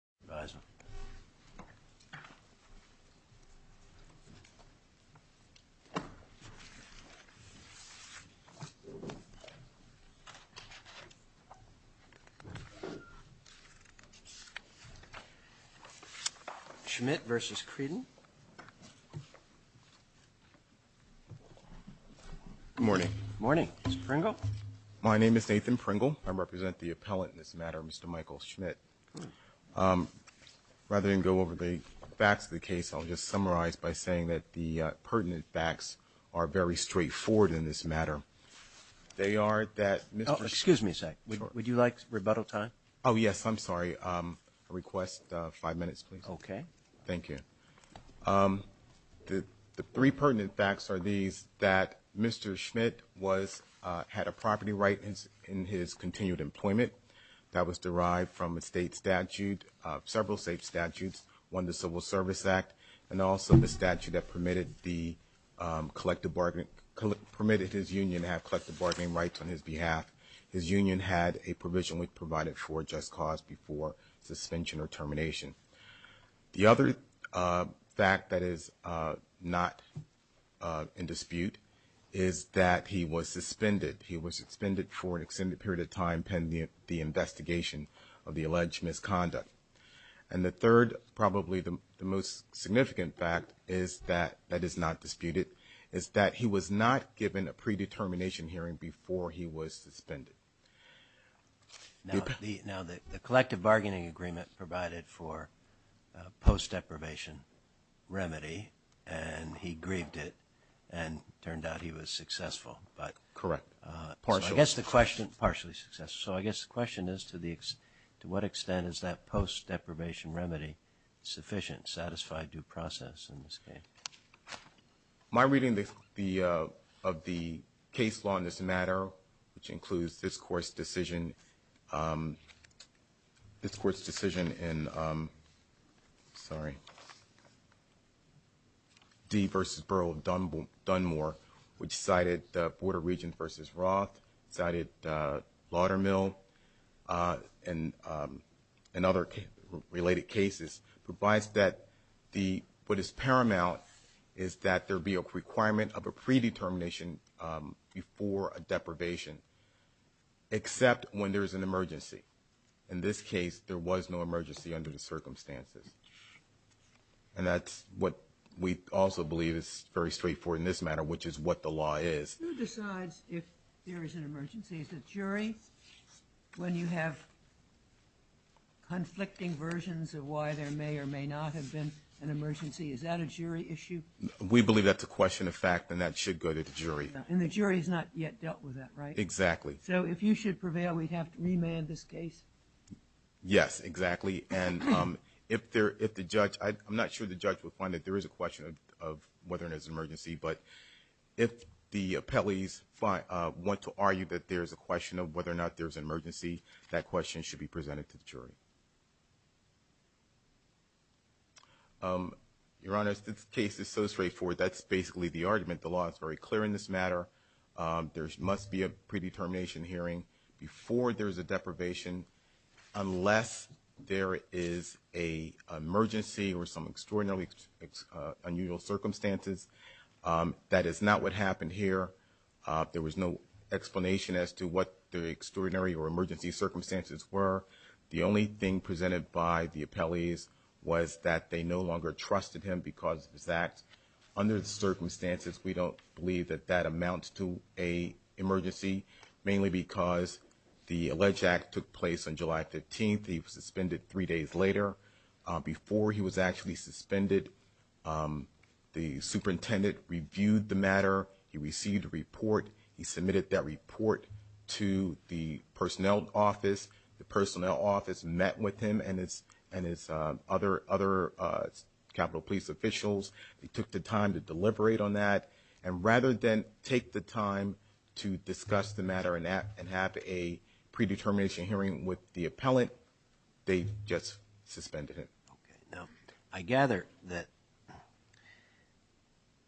.. Schmidt versus creed. Morning morning is Pringle my name is Nathan Pringle I represent the appellant this matter Mr Michael Schmidt. Rather than go over the facts of the case I'll just summarize by saying that the pertinent facts are very straightforward in this matter. They are that excuse me a sec would you like rebuttal time. Oh yes I'm sorry I request five minutes please. Okay. Thank you. The three pertinent facts are these that Mr. Schmidt was had a property right in his in his continued employment. That was derived from a state statute of several state statutes won the Civil Service Act and also the statute that permitted the collective bargaining permitted his union have collective bargaining rights on his behalf. His union had a provision which provided for just cause before suspension or termination. The other fact that is not in dispute is that he was suspended. He was suspended for an extended period of time pending the investigation of the alleged misconduct. And the third probably the most significant fact is that that is not disputed is that he was not given a predetermination hearing before he was suspended. Now the collective bargaining agreement provided for post deprivation remedy and he grieved it and turned out he was successful. But correct. I guess the question partially success. So I guess the question is to the to what extent is that post deprivation remedy sufficient satisfied due process in this case. My reading of the case law in this matter which includes this court's decision. This court's decision in. Sorry. D versus Burl Dunmore Dunmore which cited the border region versus Roth cited Laudermill and and other related cases provides that the what is paramount is that there be a requirement of a predetermination before a deprivation except when there is an emergency. In this case there was no emergency under the circumstances. And that's what we also believe is very straightforward in this matter which is what the law is. Who decides if there is an emergency is the jury when you have conflicting versions of why there may or may not have been an emergency. Is that a jury issue. We believe that's a question of fact and that should go to the jury. And the jury has not yet dealt with that right. Exactly. So if you should prevail we'd have to remand this case. Yes exactly. And if there if the judge I'm not sure the judge would find that there is a question of whether there's an emergency. But if the appellees want to argue that there is a question of whether or not there is an emergency that question should be presented to the jury. Your Honor this case is so straightforward that's basically the argument the law is very clear in this matter. There must be a predetermination hearing before there is a deprivation unless there is a emergency or some extraordinarily unusual circumstances. That is not what happened here. There was no explanation as to what the extraordinary or emergency circumstances were. The only thing presented by the appellees was that they no longer trusted him because that under the circumstances we don't believe that that amount to a emergency mainly because the alleged act took place on July 15th. He was suspended three days later before he was actually suspended. The superintendent reviewed the matter. He received a report. He submitted that report to the personnel office. The personnel office met with him and his and his other other capital police officials. They took the time to deliberate on that. And rather than take the time to discuss the matter and have a predetermination hearing with the appellant they just suspended him. Now I gather that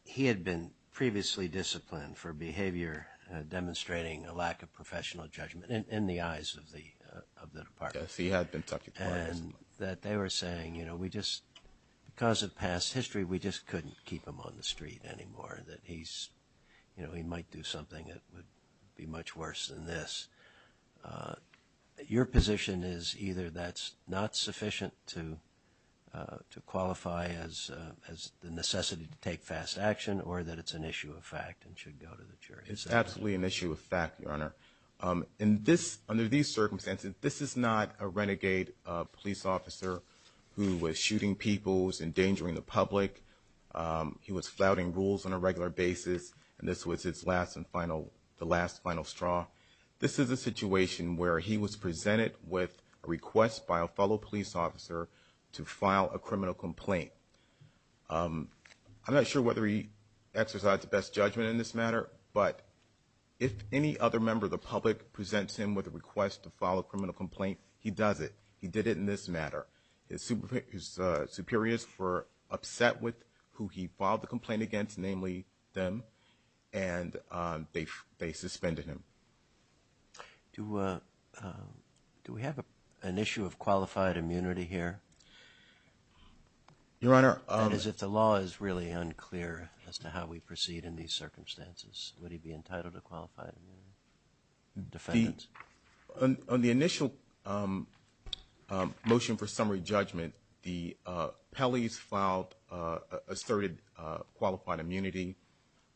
he had been previously disciplined for behavior demonstrating a lack of professional judgment in the eyes of the of the department. And that they were saying you know we just because of past history we just couldn't keep him on the street anymore. That he's you know he might do something that would be much worse than this. Your position is either that's not sufficient to to qualify as as the necessity to take fast action or that it's an issue of fact and should go to the jury. It's absolutely an issue of fact your honor. In this under these circumstances this is not a renegade police officer who was shooting people was endangering the public. He was flouting rules on a regular basis and this was his last and final the last final straw. This is a situation where he was presented with a request by a fellow police officer to file a criminal complaint. I'm not sure whether he exercised the best judgment in this matter. But if any other member of the public presents him with a request to file a criminal complaint he does it. He did it in this matter. His superiors were upset with who he filed the complaint against namely them and they suspended him. Do we have an issue of qualified immunity here. Your honor. Is it the law is really unclear as to how we proceed in these circumstances. Would he be entitled to qualified defense on the initial motion for summary judgment. The Pelley's filed asserted qualified immunity.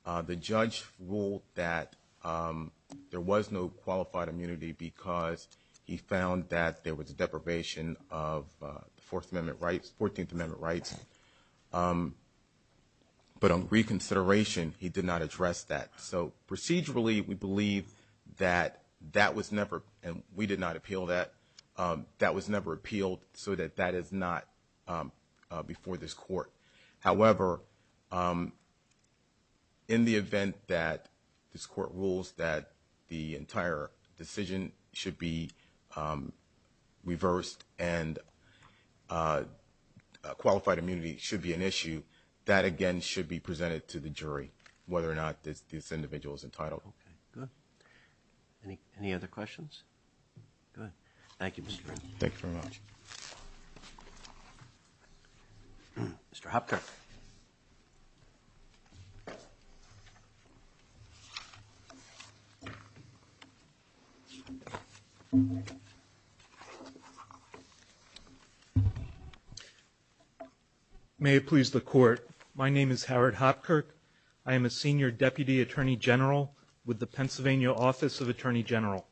The judge ruled that there was no qualified immunity because he found that there was a deprivation of the Fourth Amendment rights 14th Amendment rights. But on reconsideration he did not address that. So procedurally we believe that that was never and we did not appeal that that was never appealed so that that is not before this court. However in the event that this court rules that the entire decision should be reversed and qualified immunity should be an issue that again should be presented to the jury whether or not this individual is entitled. Good. Any other questions. Good. Thank you. Thank you very much. Mr. Hopkirk. May it please the court. My name is Howard Hopkirk. I am a senior deputy attorney general with the Pennsylvania Office of Attorney General.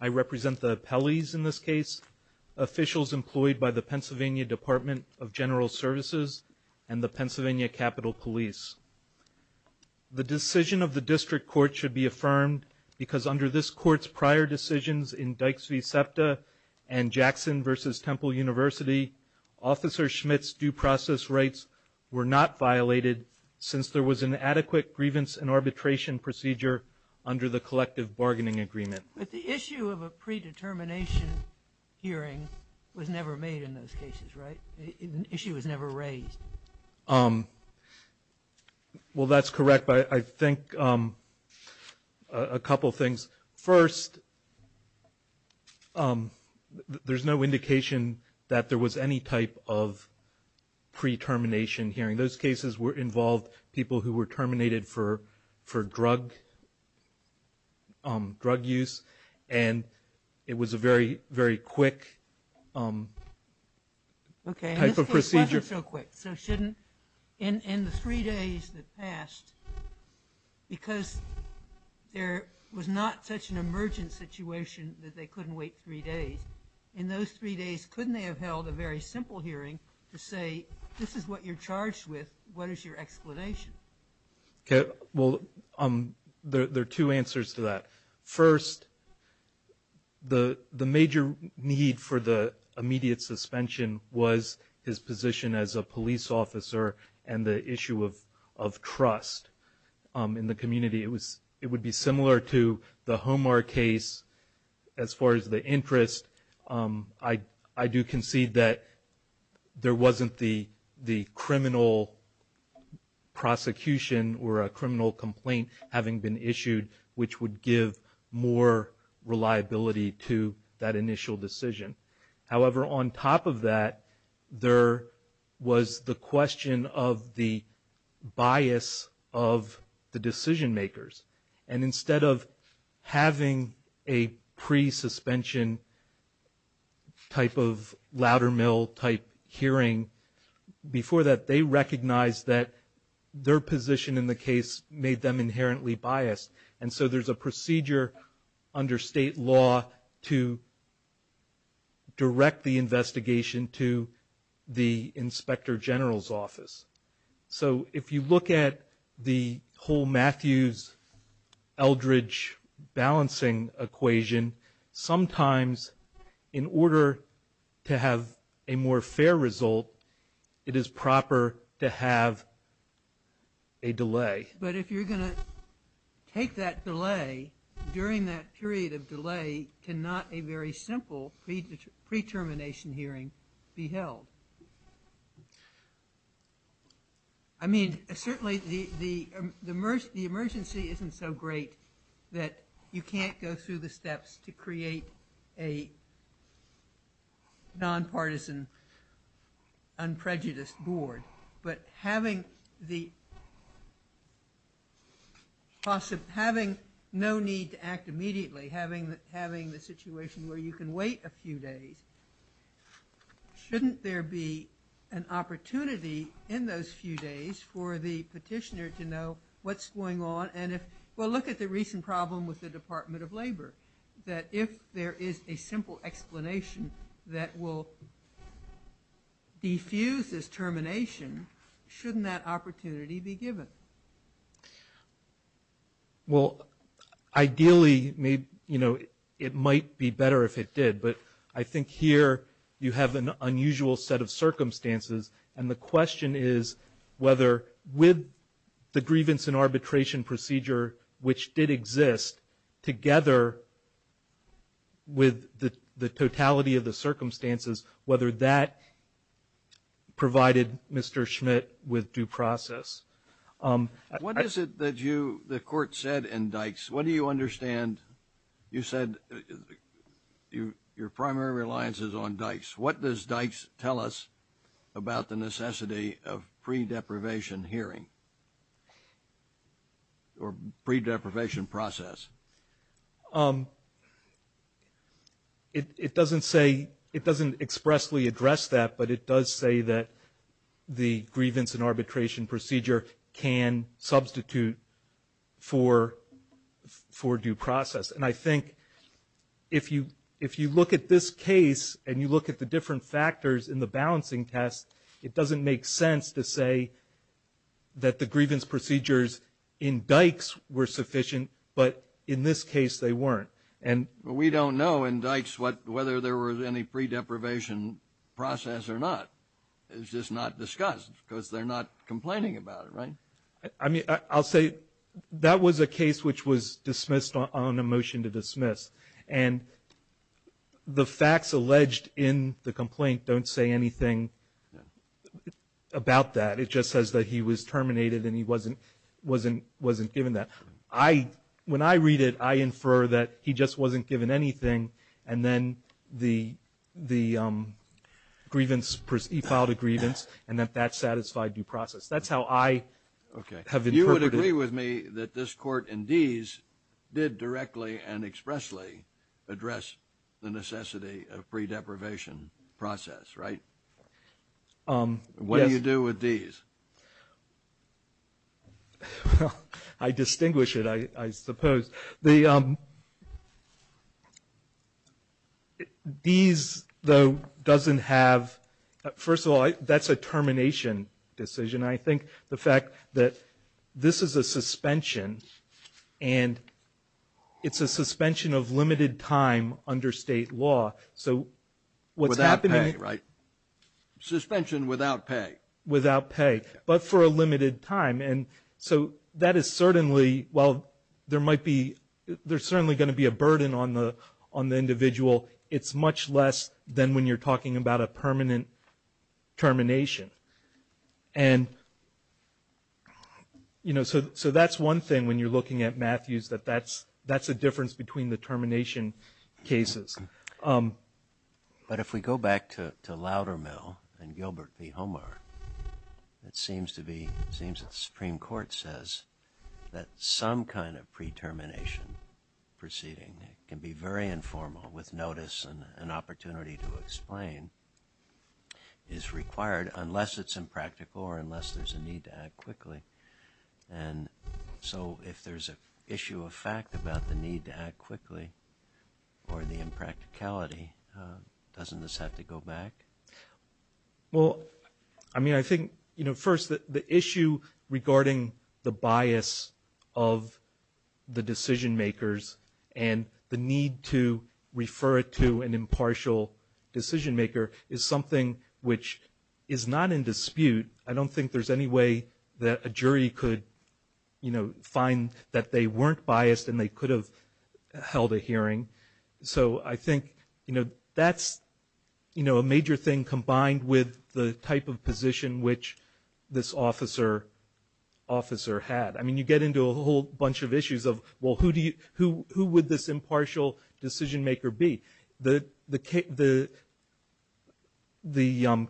I represent the Pelley's in this case. Officials employed by the Pennsylvania Department of General Services and the Pennsylvania Capitol Police. The decision of the district court should be affirmed because under this court's prior decisions in Dykes v. SEPTA and Jackson versus Temple University. Officer Schmitt's due process rights were not violated since there was an adequate grievance and arbitration procedure under the collective bargaining agreement. But the issue of a predetermination hearing was never made in those cases. Right. The issue was never raised. Well, that's correct. I think a couple of things. First, there's no indication that there was any type of pre-termination hearing. Those cases involved people who were terminated for drug use. And it was a very, very quick type of procedure. Okay. So shouldn't in the three days that passed, because there was not such an emergent situation that they couldn't wait three days. In those three days, couldn't they have held a very simple hearing to say, this is what you're charged with. What is your explanation? Well, there are two answers to that. First, the major need for the immediate suspension was his position as a police officer and the issue of trust in the community. It would be similar to the Homar case as far as the interest. I do concede that there wasn't the criminal prosecution or a criminal complaint having been issued, which would give more reliability to that initial decision. However, on top of that, there was the question of the bias of the decision makers. And instead of having a pre-suspension type of Loudermill type hearing, before that they recognized that their position in the case made them inherently biased. And so there's a procedure under state law to direct the investigation to the Inspector General's office. So if you look at the whole Matthews-Eldridge balancing equation, sometimes in order to have a more fair result, it is proper to have a delay. But if you're going to take that delay, during that period of delay, cannot a very simple pre-termination hearing be held? I mean, certainly the emergency isn't so great that you can't go through the steps to create a nonpartisan, unprejudiced board. But having no need to act immediately, having the situation where you can wait a few days, shouldn't there be an opportunity in those few days for the petitioner to know what's going on? And if we'll look at the recent problem with the Department of Labor, that if there is a simple explanation that will defuse this termination, shouldn't that opportunity be given? Well, ideally, it might be better if it did. But I think here you have an unusual set of circumstances. And the question is whether with the grievance and arbitration procedure, which did exist together with the totality of the circumstances, whether that provided Mr. Schmidt with due process. What is it that the court said in Dykes? What do you understand? You said your primary reliance is on Dykes. What does Dykes tell us about the necessity of pre-deprivation hearing or pre-deprivation process? It doesn't expressly address that, but it does say that the grievance and arbitration procedure can substitute for due process. And I think if you look at this case and you look at the different factors in the balancing test, it doesn't make sense to say that the grievance procedures in Dykes were sufficient, but in this case they weren't. We don't know in Dykes whether there was any pre-deprivation process or not. It's just not discussed because they're not complaining about it, right? I'll say that was a case which was dismissed on a motion to dismiss, and the facts alleged in the complaint don't say anything about that. It just says that he was terminated and he wasn't given that. When I read it, I infer that he just wasn't given anything, and then he filed a grievance and that that satisfied due process. That's how I have interpreted it. Okay. You would agree with me that this court in Dees did directly and expressly address the necessity of pre-deprivation process, right? Yes. What do you do with Dees? I distinguish it, I suppose. Dees, though, doesn't have – first of all, that's a termination decision. I think the fact that this is a suspension and it's a suspension of limited time under state law, so what's happening – Without pay, right? Suspension without pay. Without pay, but for a limited time. That is certainly – while there might be – there's certainly going to be a burden on the individual, it's much less than when you're talking about a permanent termination. So that's one thing when you're looking at Matthews, that that's a difference between the termination cases. But if we go back to Loudermill and Gilbert v. Homer, it seems to be – it seems that the Supreme Court says that some kind of pre-termination proceeding can be very informal with notice and an opportunity to explain is required unless it's impractical or unless there's a need to act quickly. And so if there's an issue of fact about the need to act quickly or the impracticality, doesn't this have to go back? Well, I mean, I think, you know, first, the issue regarding the bias of the decision-makers and the need to refer it to an impartial decision-maker is something which is not in dispute. I don't think there's any way that a jury could, you know, find that they weren't biased and they could have held a hearing. So I think, you know, that's, you know, a major thing combined with the type of position which this officer had. I mean, you get into a whole bunch of issues of, well, who would this impartial decision-maker be? The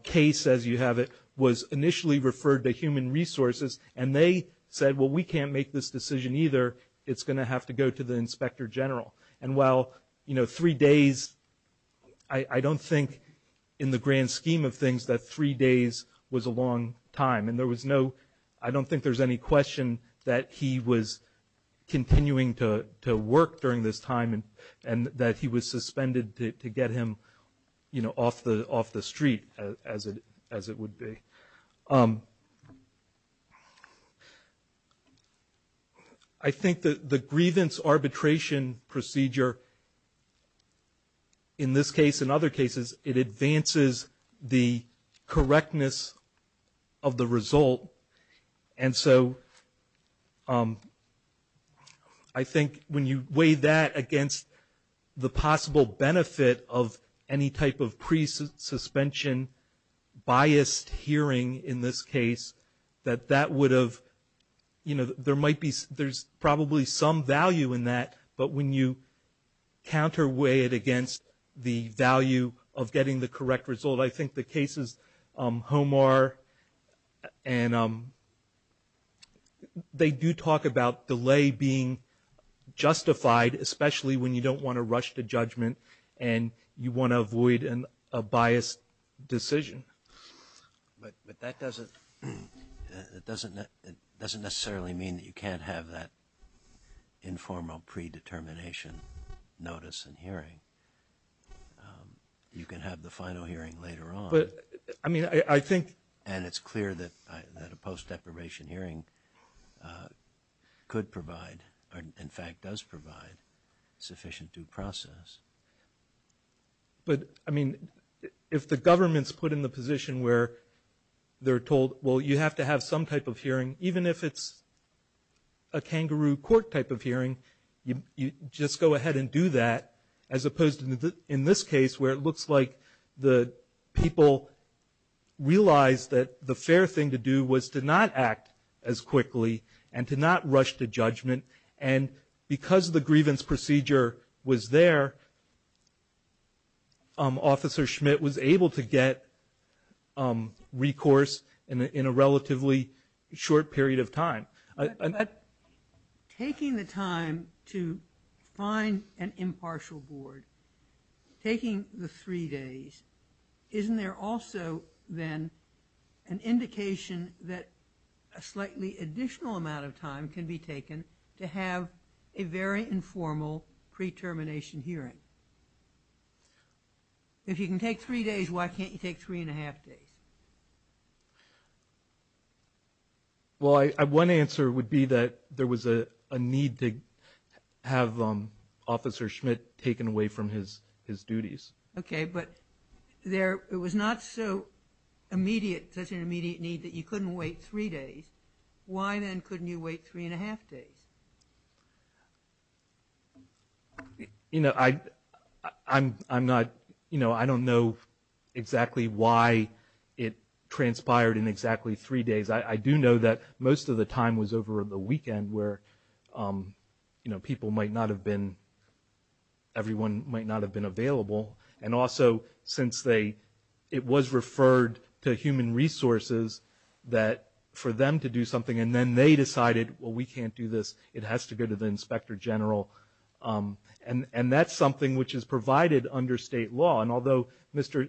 case, as you have it, was initially referred to Human Resources, and they said, well, we can't make this decision either. It's going to have to go to the Inspector General. And while, you know, three days, I don't think in the grand scheme of things that three days was a long time, and there was no – I don't think there's any question that he was continuing to work during this time and that he was suspended to get him, you know, off the street, as it would be. I think that the grievance arbitration procedure, in this case and other cases, it advances the correctness of the result. And so I think when you weigh that against the possible benefit of any type of pre-suspension biased hearing in this case, that that would have – you know, there might be – there's probably some value in that, but when you counter-weigh it against the value of getting the correct result, I think the cases – Homar and – they do talk about delay being justified, especially when you don't want to rush to judgment and you want to avoid a biased decision. But that doesn't – it doesn't necessarily mean that you can't have that informal predetermination notice in hearing. You can have the final hearing later on. But, I mean, I think – And it's clear that a post-deprivation hearing could provide, or in fact does provide, sufficient due process. But, I mean, if the government's put in the position where they're told, well, you have to have some type of hearing, even if it's a kangaroo court type of hearing, you just go ahead and do that, as opposed to in this case where it looks like the people realize that the fair thing to do was to not act as quickly and to not rush to judgment. And because the grievance procedure was there, Officer Schmidt was able to get recourse in a relatively short period of time. Taking the time to find an impartial board, taking the three days, isn't there also, then, an indication that a slightly additional amount of time can be taken to have a very informal predetermination hearing? If you can take three days, why can't you take three and a half days? Well, one answer would be that there was a need to have Officer Schmidt taken away from his duties. Okay, but it was not such an immediate need that you couldn't wait three days. Why, then, couldn't you wait three and a half days? You know, I don't know exactly why it transpired in exactly three days. I do know that most of the time was over the weekend where, you know, people might not have been, everyone might not have been available. And also, since it was referred to Human Resources for them to do something, and then they decided, well, we can't do this, it has to go to the Inspector General. And that's something which is provided under state law. And although Mr.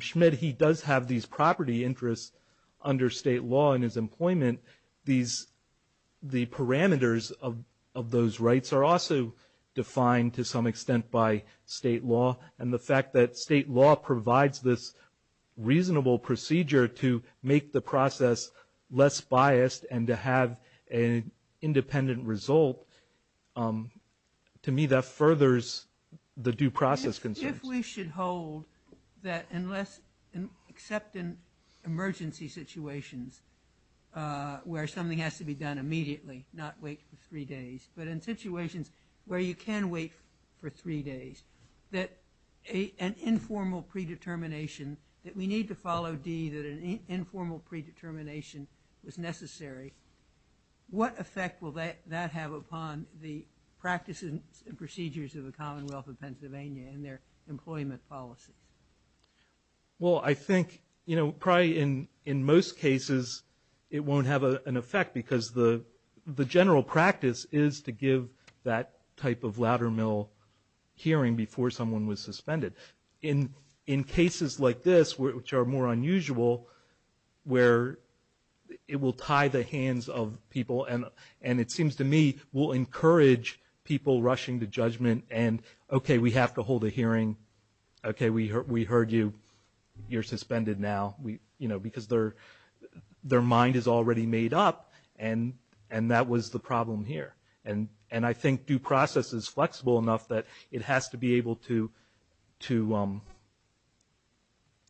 Schmidt, he does have these property interests under state law and his employment, the parameters of those rights are also defined to some extent by state law. And the fact that state law provides this reasonable procedure to make the process less biased and to have an independent result, to me, that furthers the due process concerns. If we should hold that unless, except in emergency situations, where something has to be done immediately, not wait for three days, but in situations where you can wait for three days, that an informal predetermination that we need to follow D, that an informal predetermination was necessary, what effect will that have upon the practices and procedures of the employment policies? Well, I think, you know, probably in most cases it won't have an effect because the general practice is to give that type of ladder mill hearing before someone was suspended. In cases like this, which are more unusual, where it will tie the hands of people and it seems to me will encourage people rushing to judgment and, okay, we have to hold a hearing, okay, we heard you, you're suspended now, you know, because their mind is already made up and that was the problem here. And I think due process is flexible enough that it has to be able to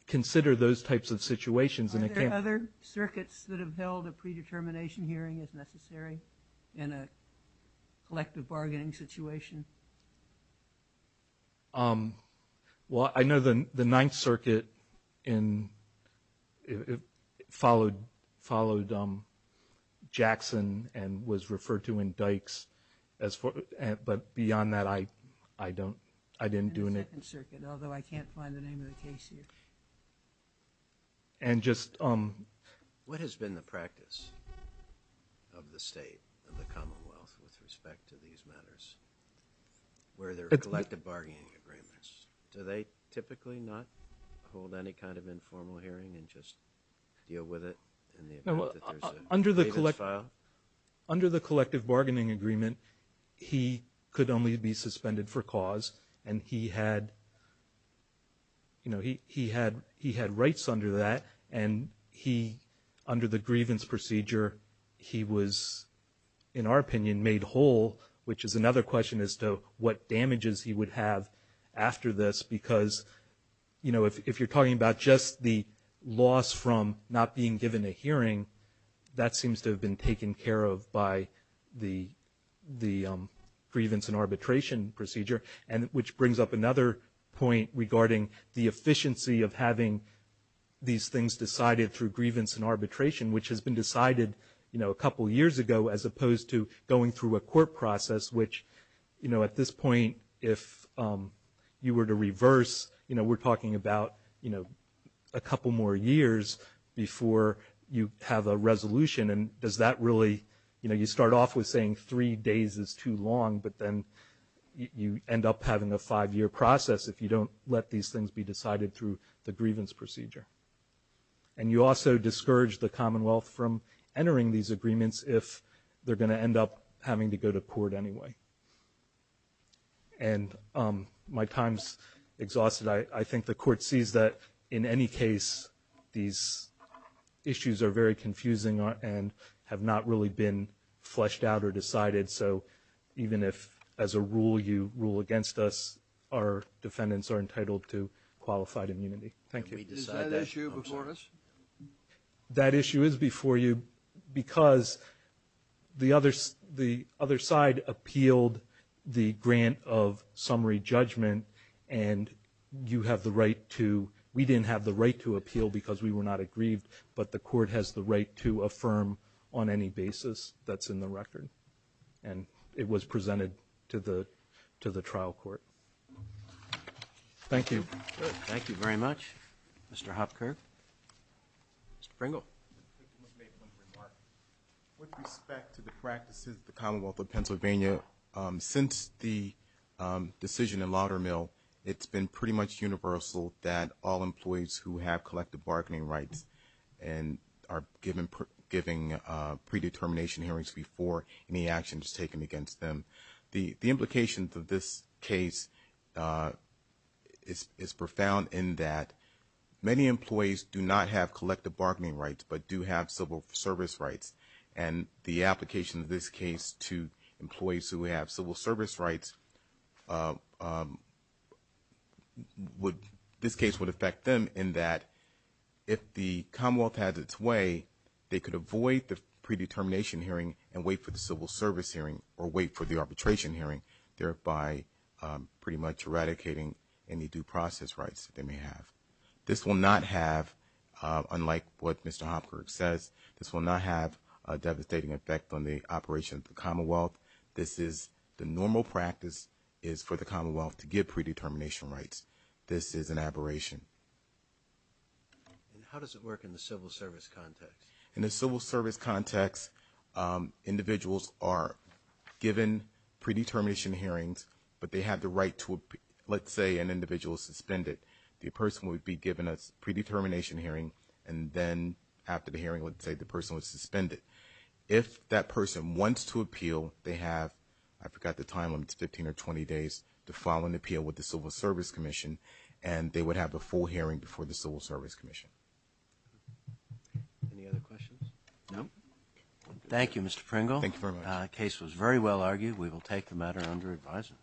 consider those types of situations. Are there other circuits that have held a predetermination hearing as necessary in a collective bargaining situation? Well, I know the Ninth Circuit followed Jackson and was referred to in Dykes, but beyond that I didn't do anything. In the Second Circuit, although I can't find the name of the case here. And just what has been the practice of the state, of the Commonwealth, with respect to these matters where there are collective bargaining agreements? Do they typically not hold any kind of informal hearing and just deal with it? No, under the collective bargaining agreement he could only be suspended for And he, under the grievance procedure, he was, in our opinion, made whole, which is another question as to what damages he would have after this. Because, you know, if you're talking about just the loss from not being given a hearing, that seems to have been taken care of by the grievance and arbitration procedure. And which brings up another point regarding the efficiency of having these things decided through grievance and arbitration, which has been decided, you know, a couple years ago, as opposed to going through a court process, which, you know, at this point if you were to reverse, you know, we're talking about, you know, a couple more years before you have a resolution. And does that really, you know, you start off with saying three days is too long, but then you end up having a five-year process if you don't let these things be decided through the grievance procedure. And you also discourage the Commonwealth from entering these agreements if they're going to end up having to go to court anyway. And my time's exhausted. I think the Court sees that in any case these issues are very confusing and have not really been fleshed out or decided. So even if as a rule you rule against us, our defendants are entitled to qualified Thank you. Sotomayor. Can we decide that issue before us? That issue is before you because the other side appealed the grant of summary judgment, and you have the right to we didn't have the right to appeal because we were not aggrieved, but the Court has the right to affirm on any basis that's in the record. And it was presented to the trial court. Thank you. Thank you very much. Mr. Hopker. Mr. Pringle. With respect to the practices of the Commonwealth of Pennsylvania, since the decision in Laudermill, it's been pretty much universal that all employees who have collective bargaining rights and are giving predetermination hearings before any action is taken against them. The implications of this case is profound in that many employees do not have collective bargaining rights but do have civil service rights. And the application of this case to employees who have civil service rights, this case would affect them in that if the Commonwealth has its way, they could avoid the predetermination hearing and wait for the civil service hearing or wait for the arbitration hearing, thereby pretty much eradicating any due process rights that they may have. This will not have, unlike what Mr. Hopker says, this will not have a devastating effect on the operation of the Commonwealth. This is the normal practice is for the Commonwealth to give predetermination rights. This is an aberration. And how does it work in the civil service context? In the civil service context, individuals are given predetermination hearings but they have the right to, let's say, an individual suspended. The person would be given a predetermination hearing and then after the hearing, let's say, the person was suspended. If that person wants to appeal, they have, I forgot the time limits, 15 or 20 days to file an appeal with the Civil Service Commission and they would have a full hearing before the Civil Service Commission. Any other questions? No? Thank you, Mr. Pringle. Thank you very much. The case was very well argued. We will take the matter under advisement.